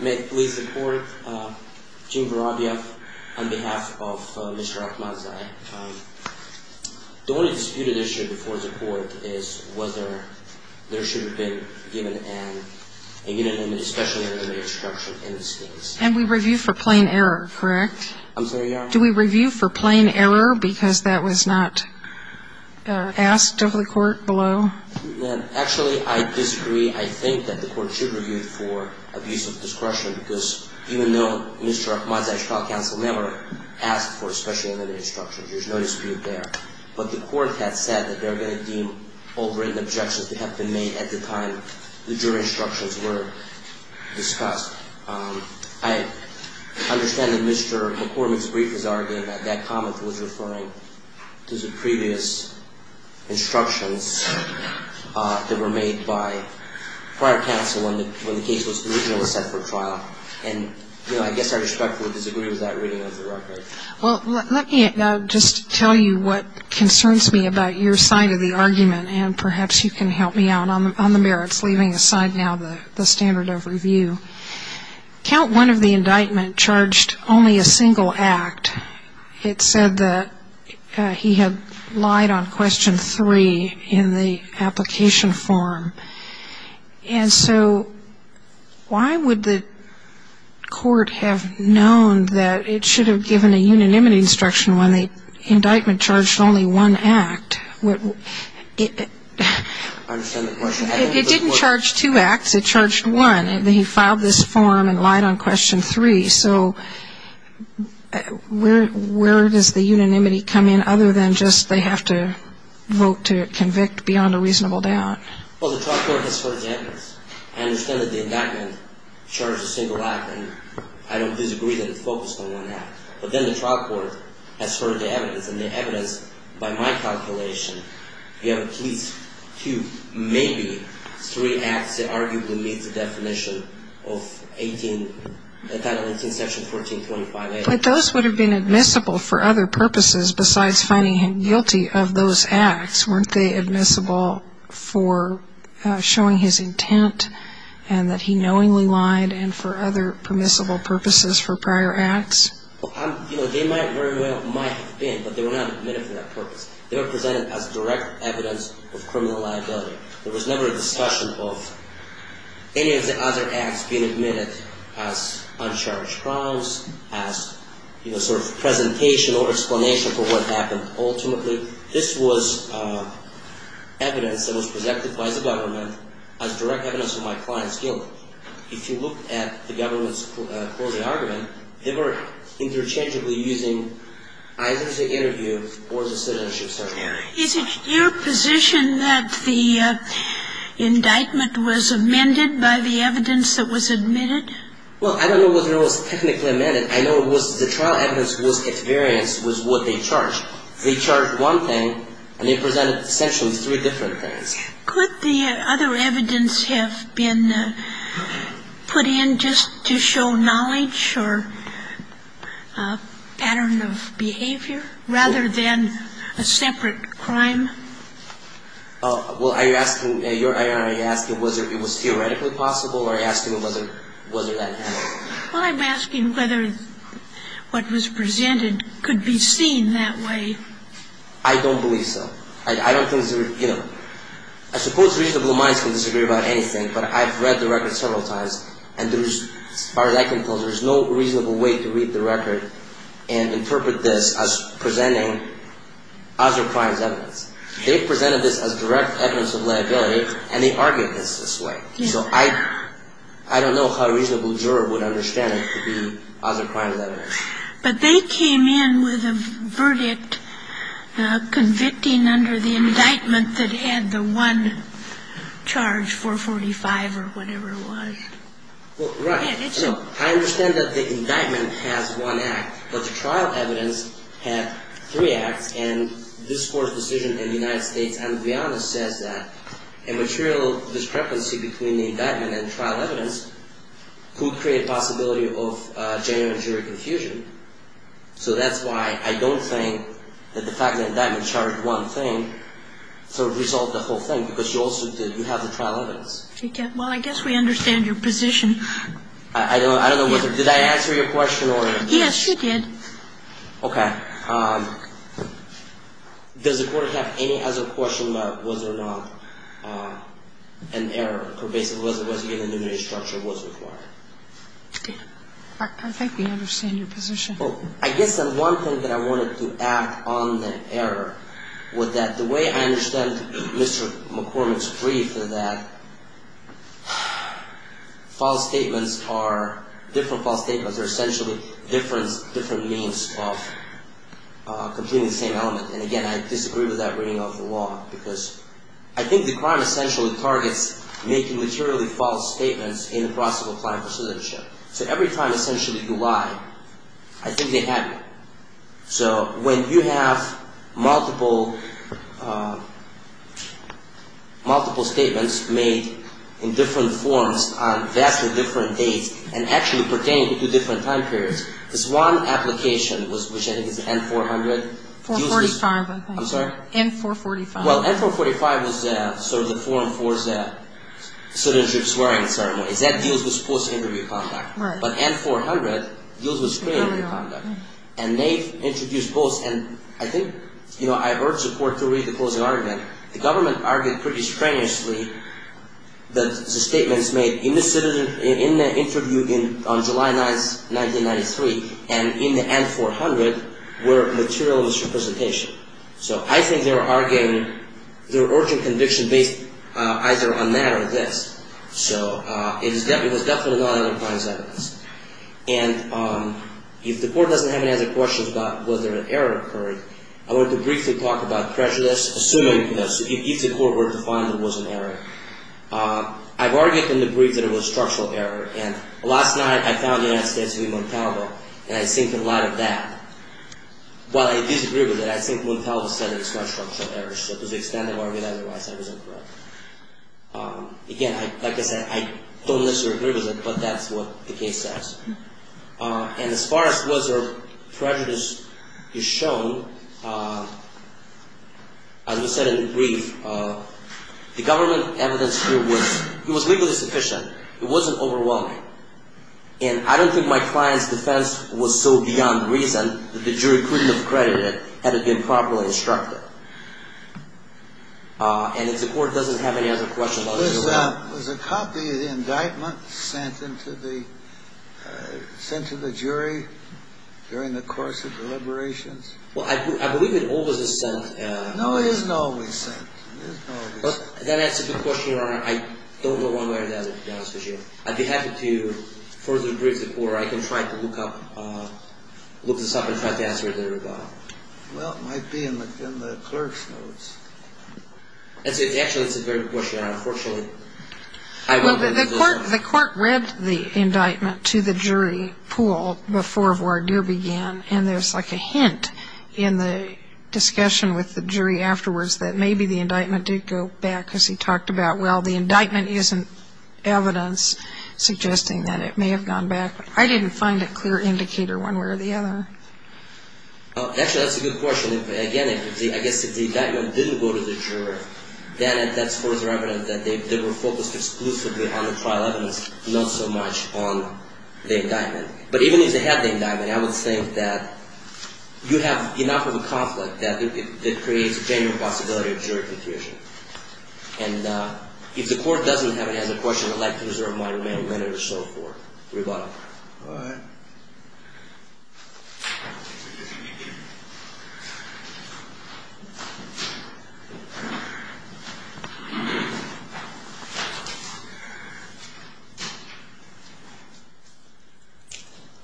May it please the court, Gene Barabia on behalf of Mr. Ahmadzai, the only disputed issue before the court is whether there should have been given a unit and especially a limited instruction in the states. And we review for plain error, correct? I'm sorry, Your Honor? Do we review for plain error because that was not asked of the court below? Actually, I disagree. I think that the court should review for abuse of discretion because even though Mr. Ahmadzai's trial counsel never asked for a special unit instruction, there's no dispute there. But the court has said that they're going to deem all written objections to have been made at the time the jury instructions were discussed. I understand that Mr. McCormick's brief is arguing that that comment was referring to the previous instructions that were made by prior counsel when the case was originally set for trial. And, you know, I guess I respectfully disagree with that reading of the record. Well, let me just tell you what concerns me about your side of the argument, and perhaps you can help me out on the merits, leaving aside now the standard of review. Count one of the indictment charged only a single act. It said that he had lied on question three in the application form. And so why would the court have known that it should have given a unanimity instruction when the indictment charged only one act? I understand the question. It didn't charge two acts. It charged one. And he filed this form and lied on question three. So where does the unanimity come in other than just they have to vote to convict beyond a reasonable doubt? Well, the trial court has heard the evidence. I understand that the indictment charged a single act, and I don't disagree that it's focused on one act. But then the trial court has heard the evidence. By my calculation, you have at least two, maybe three acts that arguably meet the definition of Title 18, Section 1425A. But those would have been admissible for other purposes besides finding him guilty of those acts. Weren't they admissible for showing his intent and that he knowingly lied and for other permissible purposes for prior acts? Well, they might very well have been, but they were not admitted for that purpose. They were presented as direct evidence of criminal liability. There was never a discussion of any of the other acts being admitted as uncharged crimes, as sort of presentation or explanation for what happened. Ultimately, this was evidence that was presented by the government as direct evidence of my client's guilt. If you look at the government's closing argument, they were interchangeably using either the interview or the citizenship survey. Is it your position that the indictment was amended by the evidence that was admitted? Well, I don't know whether it was technically amended. I know it was the trial evidence was at variance with what they charged. They charged one thing, and they presented essentially three different things. Could the other evidence have been put in just to show knowledge or pattern of behavior rather than a separate crime? Well, are you asking whether it was theoretically possible or are you asking whether that happened? Well, I'm asking whether what was presented could be seen that way. I don't believe so. I suppose reasonable minds can disagree about anything, but I've read the record several times, and as far as I can tell, there's no reasonable way to read the record and interpret this as presenting other crimes' evidence. They presented this as direct evidence of liability, and they argued this this way. So I don't know how a reasonable juror would understand it to be other crimes' evidence. But they came in with a verdict convicting under the indictment that had the one charge 445 or whatever it was. Well, right. I understand that the indictment has one act, but the trial evidence had three acts, and this Court's decision in the United States and beyond says that a material discrepancy between the indictment and trial evidence could create a possibility of genuine jury confusion. So that's why I don't think that the fact that the indictment charged one thing sort of resolved the whole thing, because you also did. You have the trial evidence. Well, I guess we understand your position. I don't know whether. Did I answer your question? Yes, you did. Okay. Does the Court have any other question about whether or not an error pervasive was given in the jury structure was required? I think we understand your position. Well, I guess the one thing that I wanted to add on the error was that the way I understand Mr. McCormick's brief is that false statements are different false statements. They're essentially different means of completing the same element, and again, I disagree with that reading of the law, because I think the crime essentially targets making materially false statements in the process of applying for citizenship. So every time, essentially, you lie, I think they had you. So when you have multiple statements made in different forms on vastly different dates and actually pertaining to different time periods, this one application, which I think is N-400. N-445, I think. I'm sorry? N-445. Well, N-445 was sort of the form for citizenship swearing in certain ways. That deals with false interview conduct. Right. But N-400 deals with straight interview conduct, and they introduced both. And I think, you know, I urge the Court to read the closing argument. The government argued pretty strenuously that the statements made in the interview on July 9, 1993, and in the N-400, were materialist representation. So I think they were arguing their urgent conviction based either on that or this. So it was definitely not other kinds of evidence. And if the Court doesn't have any other questions about whether an error occurred, I want to briefly talk about prejudice, assuming if the Court were to find there was an error. I've argued in the brief that it was a structural error. And last night, I found the United States v. Montalvo, and I think in light of that, while I disagree with it, I think Montalvo said it was not a structural error. So to the extent of arguing otherwise, I was incorrect. Again, like I said, I don't necessarily agree with it, but that's what the case says. And as far as whether prejudice is shown, as we said in the brief, the government evidence here was legally sufficient. It wasn't overwhelming. And I don't think my client's defense was so beyond reason that the jury couldn't have credited it had it been properly instructed. And if the Court doesn't have any other questions about whether it was. Was a copy of the indictment sent to the jury during the course of deliberations? Well, I believe it always is sent. No, it isn't always sent. That answers the question, Your Honor. I don't go one way or the other, to be honest with you. I'd be happy to further brief the Court. I can try to look this up and try to answer it later. Well, it might be in the clerk's notes. Actually, that's a very good question, Your Honor. Unfortunately, I won't go into those. Well, the Court read the indictment to the jury pool before voir dire began, and there's like a hint in the discussion with the jury afterwards that maybe the indictment did go back, because he talked about, well, the indictment isn't evidence suggesting that it may have gone back. I didn't find a clear indicator one way or the other. Actually, that's a good question. Again, I guess if the indictment didn't go to the juror, then that's further evidence that they were focused exclusively on the trial evidence, not so much on the indictment. But even if they had the indictment, I would think that you have enough of a conflict that it creates a genuine possibility of jury confusion. And if the Court doesn't have it as a question, I'd like to reserve my remaining minute or so for rebuttal. All right. Thank you.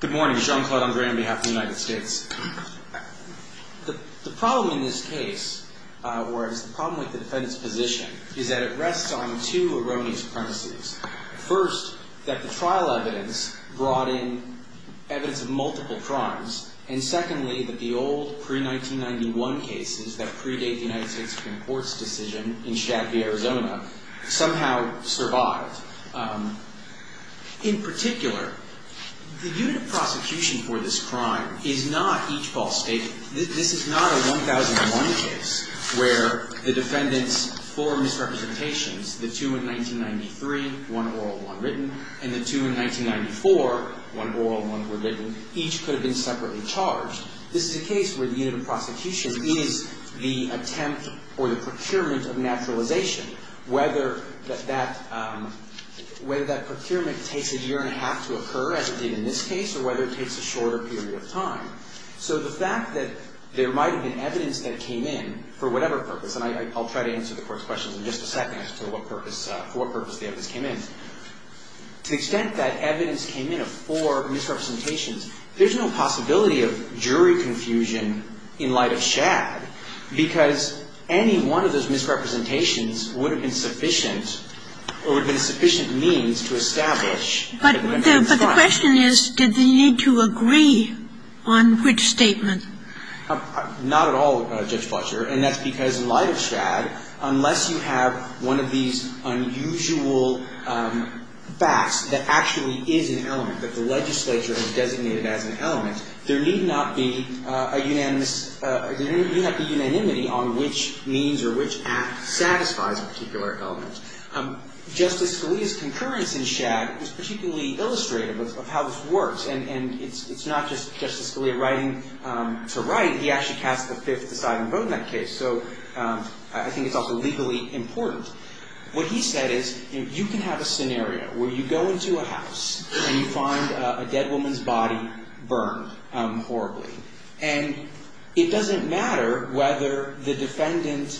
Good morning. Sean Claude Andre on behalf of the United States. The problem in this case, whereas the problem with the defendant's position, is that it rests on two erroneous premises. First, that the trial evidence brought in evidence of multiple crimes, and secondly, that the old pre-1991 cases that predate the United States Supreme Court's decision in Chaffee, Arizona, somehow survived. In particular, the unit of prosecution for this crime is not each false statement. This is not a 1001 case where the defendant's four misrepresentations, the two in 1993, one oral and one written, and the two in 1994, one oral and one written, each could have been separately charged. This is a case where the unit of prosecution is the attempt or the procurement of naturalization, whether that procurement takes a year and a half to occur, as it did in this case, or whether it takes a shorter period of time. So the fact that there might have been evidence that came in for whatever purpose, and I'll try to answer the Court's questions in just a second as to what purpose, for what purpose the evidence came in. To the extent that evidence came in of four misrepresentations, there's no possibility of jury confusion in light of Shad, because any one of those misrepresentations would have been sufficient, or would have been a sufficient means to establish that the defendant was caught. But the question is, did they need to agree on which statement? Not at all, Judge Fletcher. And that's because in light of Shad, unless you have one of these unusual facts that actually is an element, that the legislature has designated as an element, there need not be a unanimous, there need not be unanimity on which means or which act satisfies a particular element. Justice Scalia's concurrence in Shad was particularly illustrative of how this works. And it's not just Justice Scalia writing to write. He actually cast the fifth deciding vote in that case. So I think it's also legally important. What he said is, you can have a scenario where you go into a house and you find a dead woman's body burned horribly. And it doesn't matter whether the defendant,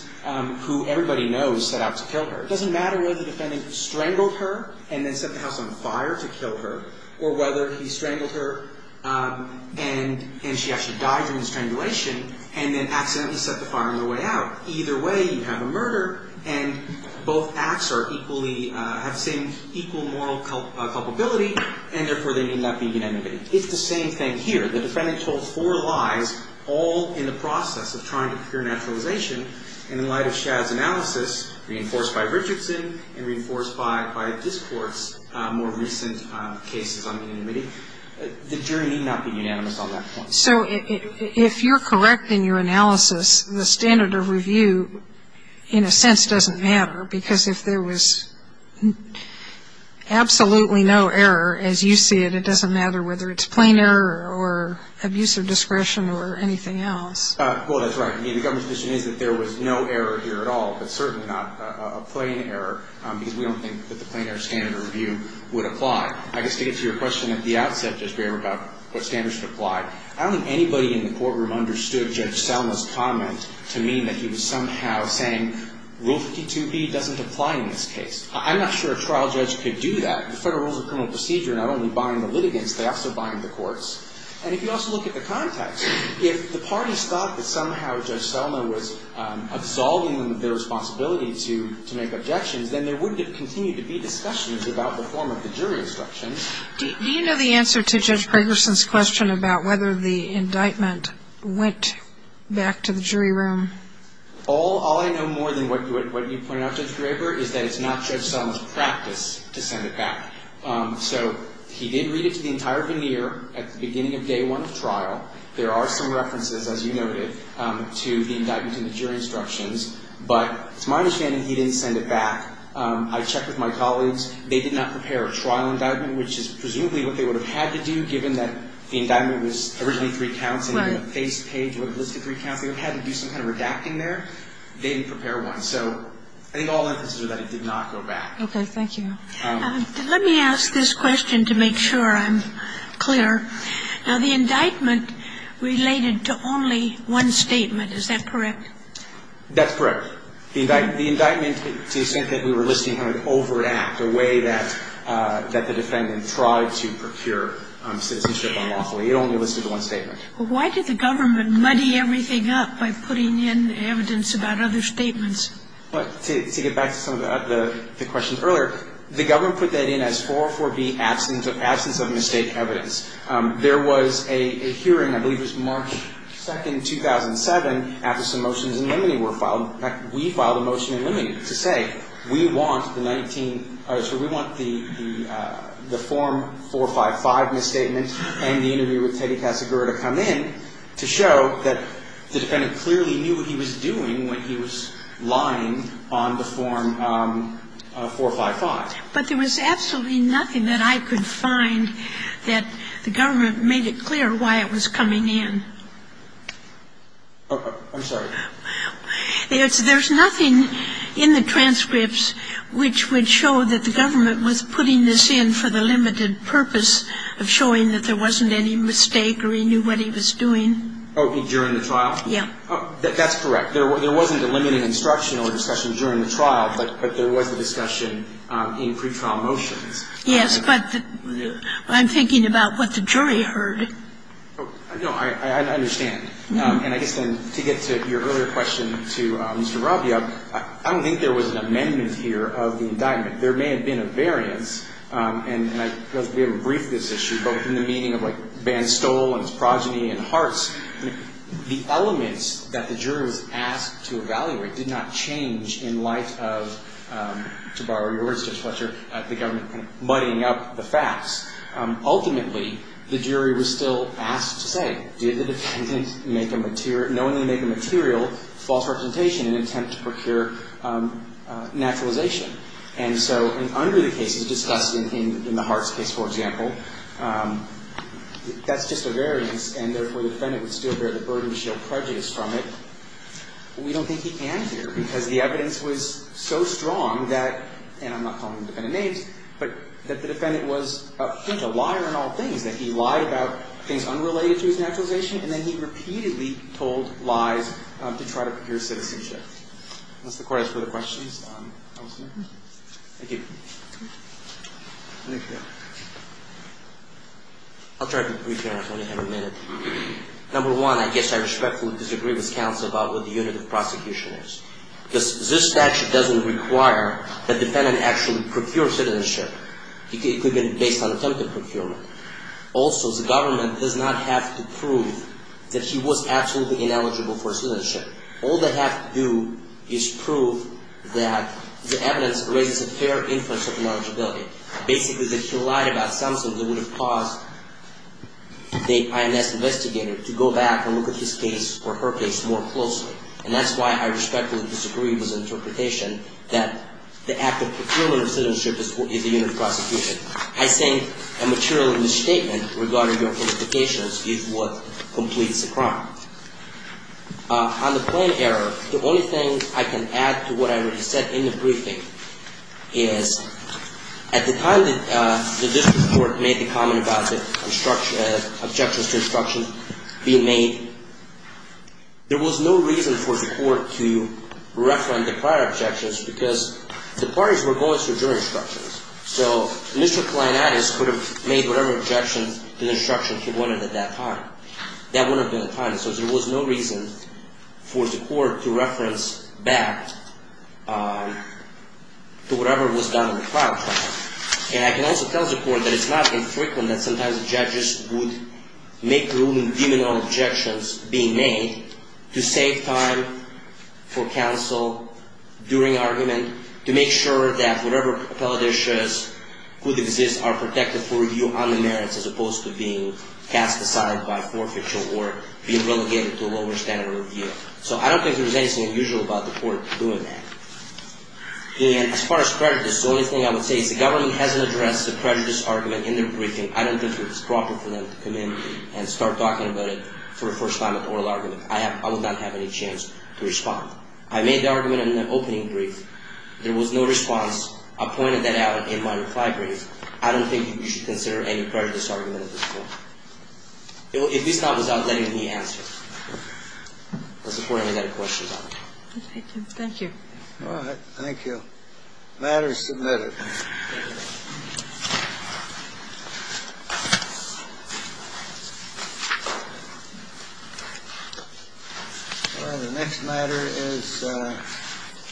who everybody knows set out to kill her, it doesn't matter whether the defendant strangled her and then set the house on fire to kill her, or whether he strangled her and she actually died during the strangulation and then accidentally set the fire on the way out. Either way, you have a murder, and both acts are equally, have the same equal moral culpability, and therefore they need not be unanimity. It's the same thing here. The defendant told four lies all in the process of trying to procure naturalization. So if you're correct in your analysis, the standard of review in a sense doesn't matter, because if there was absolutely no error, as you see it, it doesn't matter whether it's plain error or abuse of discretion or anything else. Well, that's right. I mean, the government's position is that there was absolutely no error. There was no error here at all, but certainly not a plain error, because we don't think that the plain error standard of review would apply. I guess to get to your question at the outset, Judge Graber, about what standards should apply, I don't think anybody in the courtroom understood Judge Selma's comment to mean that he was somehow saying, Rule 52B doesn't apply in this case. I'm not sure a trial judge could do that. The Federal Rules of Criminal Procedure not only bind the litigants, they also bind the courts. And if you also look at the context, if the parties thought that somehow Judge Selma was absolving them of their responsibility to make objections, then there wouldn't have continued to be discussions about the form of the jury instructions. Do you know the answer to Judge Gregersen's question about whether the indictment went back to the jury room? All I know more than what you pointed out, Judge Graber, is that it's not Judge Selma's practice to send it back. So he did read it to the entire veneer at the beginning of day one of trial. There are some references, as you noted, to the indictment and the jury instructions. But to my understanding, he didn't send it back. I checked with my colleagues. They did not prepare a trial indictment, which is presumably what they would have had to do, given that the indictment was originally three counts and the face page would have listed three counts. They would have had to do some kind of redacting there. They didn't prepare one. So I think all emphasis is that it did not go back. Okay. Thank you. Let me ask this question to make sure I'm clear. Now, the indictment related to only one statement. Is that correct? That's correct. The indictment, to the extent that we were listing how it would overact, the way that the defendant tried to procure citizenship unlawfully, it only listed one statement. Why did the government muddy everything up by putting in evidence about other statements? Well, to get back to some of the questions earlier, the government put that in as 404B, absence of mistake evidence. There was a hearing, I believe it was March 2nd, 2007, after some motions in limine were filed. In fact, we filed a motion in limine to say we want the 19 ‑‑ so we want the form 455 misstatement and the interview with Teddy Casagrura to come in to show that the defendant clearly knew what he was doing when he was lying on the form 455. But there was absolutely nothing that I could find that the government made it clear why it was coming in. I'm sorry? There's nothing in the transcripts which would show that the government was putting this in for the limited purpose of showing that there wasn't any mistake or he knew what he was doing. Oh, during the trial? Yeah. That's correct. There wasn't a limited instructional discussion during the trial, but there was a discussion in pretrial motions. Yes, but I'm thinking about what the jury heard. No, I understand. And I guess then to get to your earlier question to Mr. Rabia, I don't think there was an amendment here of the indictment. There may have been a variance, and I don't know if we have a brief on this issue, but in the meeting of, like, Banstol and his progeny and Hartz, the elements that the jury was asked to evaluate did not change in light of, to borrow your words, Judge Fletcher, the government kind of muddying up the facts. Ultimately, the jury was still asked to say, did the defendant knowingly make a material false representation in an attempt to procure naturalization? And so under the cases discussed in the Hartz case, for example, that's just a variance, and therefore the defendant would still bear the burden to shield prejudice from it. We don't think he can here because the evidence was so strong that, and I'm not calling the defendant names, but that the defendant was, I think, a liar in all things, that he lied about things unrelated to his naturalization, and then he repeatedly told lies to try to procure citizenship. Unless the court has further questions. I'll try to be brief here. I only have a minute. Number one, I guess I respectfully disagree with counsel about what the unit of prosecution is, because this statute doesn't require the defendant to actually procure citizenship. It could be based on attempted procurement. Also, the government does not have to prove that he was absolutely ineligible for citizenship. All they have to do is prove that the evidence raises a fair inference of ineligibility. Basically, that he lied about something that would have caused the INS investigator to go back and look at his case or her case more closely. And that's why I respectfully disagree with the interpretation that the act of procuring citizenship is the unit of prosecution. I think a material misstatement regarding your qualifications is what completes the crime. On the plain error, the only thing I can add to what I already said in the briefing is, at the time that this court made the comment about the objections to instructions being made, there was no reason for the court to refer to the prior objections, because the parties were going through jury instructions. So, Mr. Kleinadis could have made whatever objections to the instructions he wanted at that time. That wouldn't have been the time. So, there was no reason for the court to reference back to whatever was done in the trial trial. And I can also tell the court that it's not infrequent that sometimes judges would make ruling deeming all objections being made to save time for counsel during argument, to make sure that whatever prejudices could exist are protected for review on the merits as opposed to being cast aside by forfeiture or being relegated to a lower standard of review. So, I don't think there's anything unusual about the court doing that. And as far as prejudice, the only thing I would say is the government hasn't addressed the prejudice argument in their briefing. I don't think it's proper for them to come in and start talking about it for the first time at oral argument. I would not have any chance to respond. I made the argument in the opening brief. There was no response. I pointed that out in my reply brief. I don't think you should consider any prejudice argument at this point. At least not without letting me answer. That's the point I'm going to get questions on. Thank you. All right. Thank you. The matter is submitted. All right. The next matter is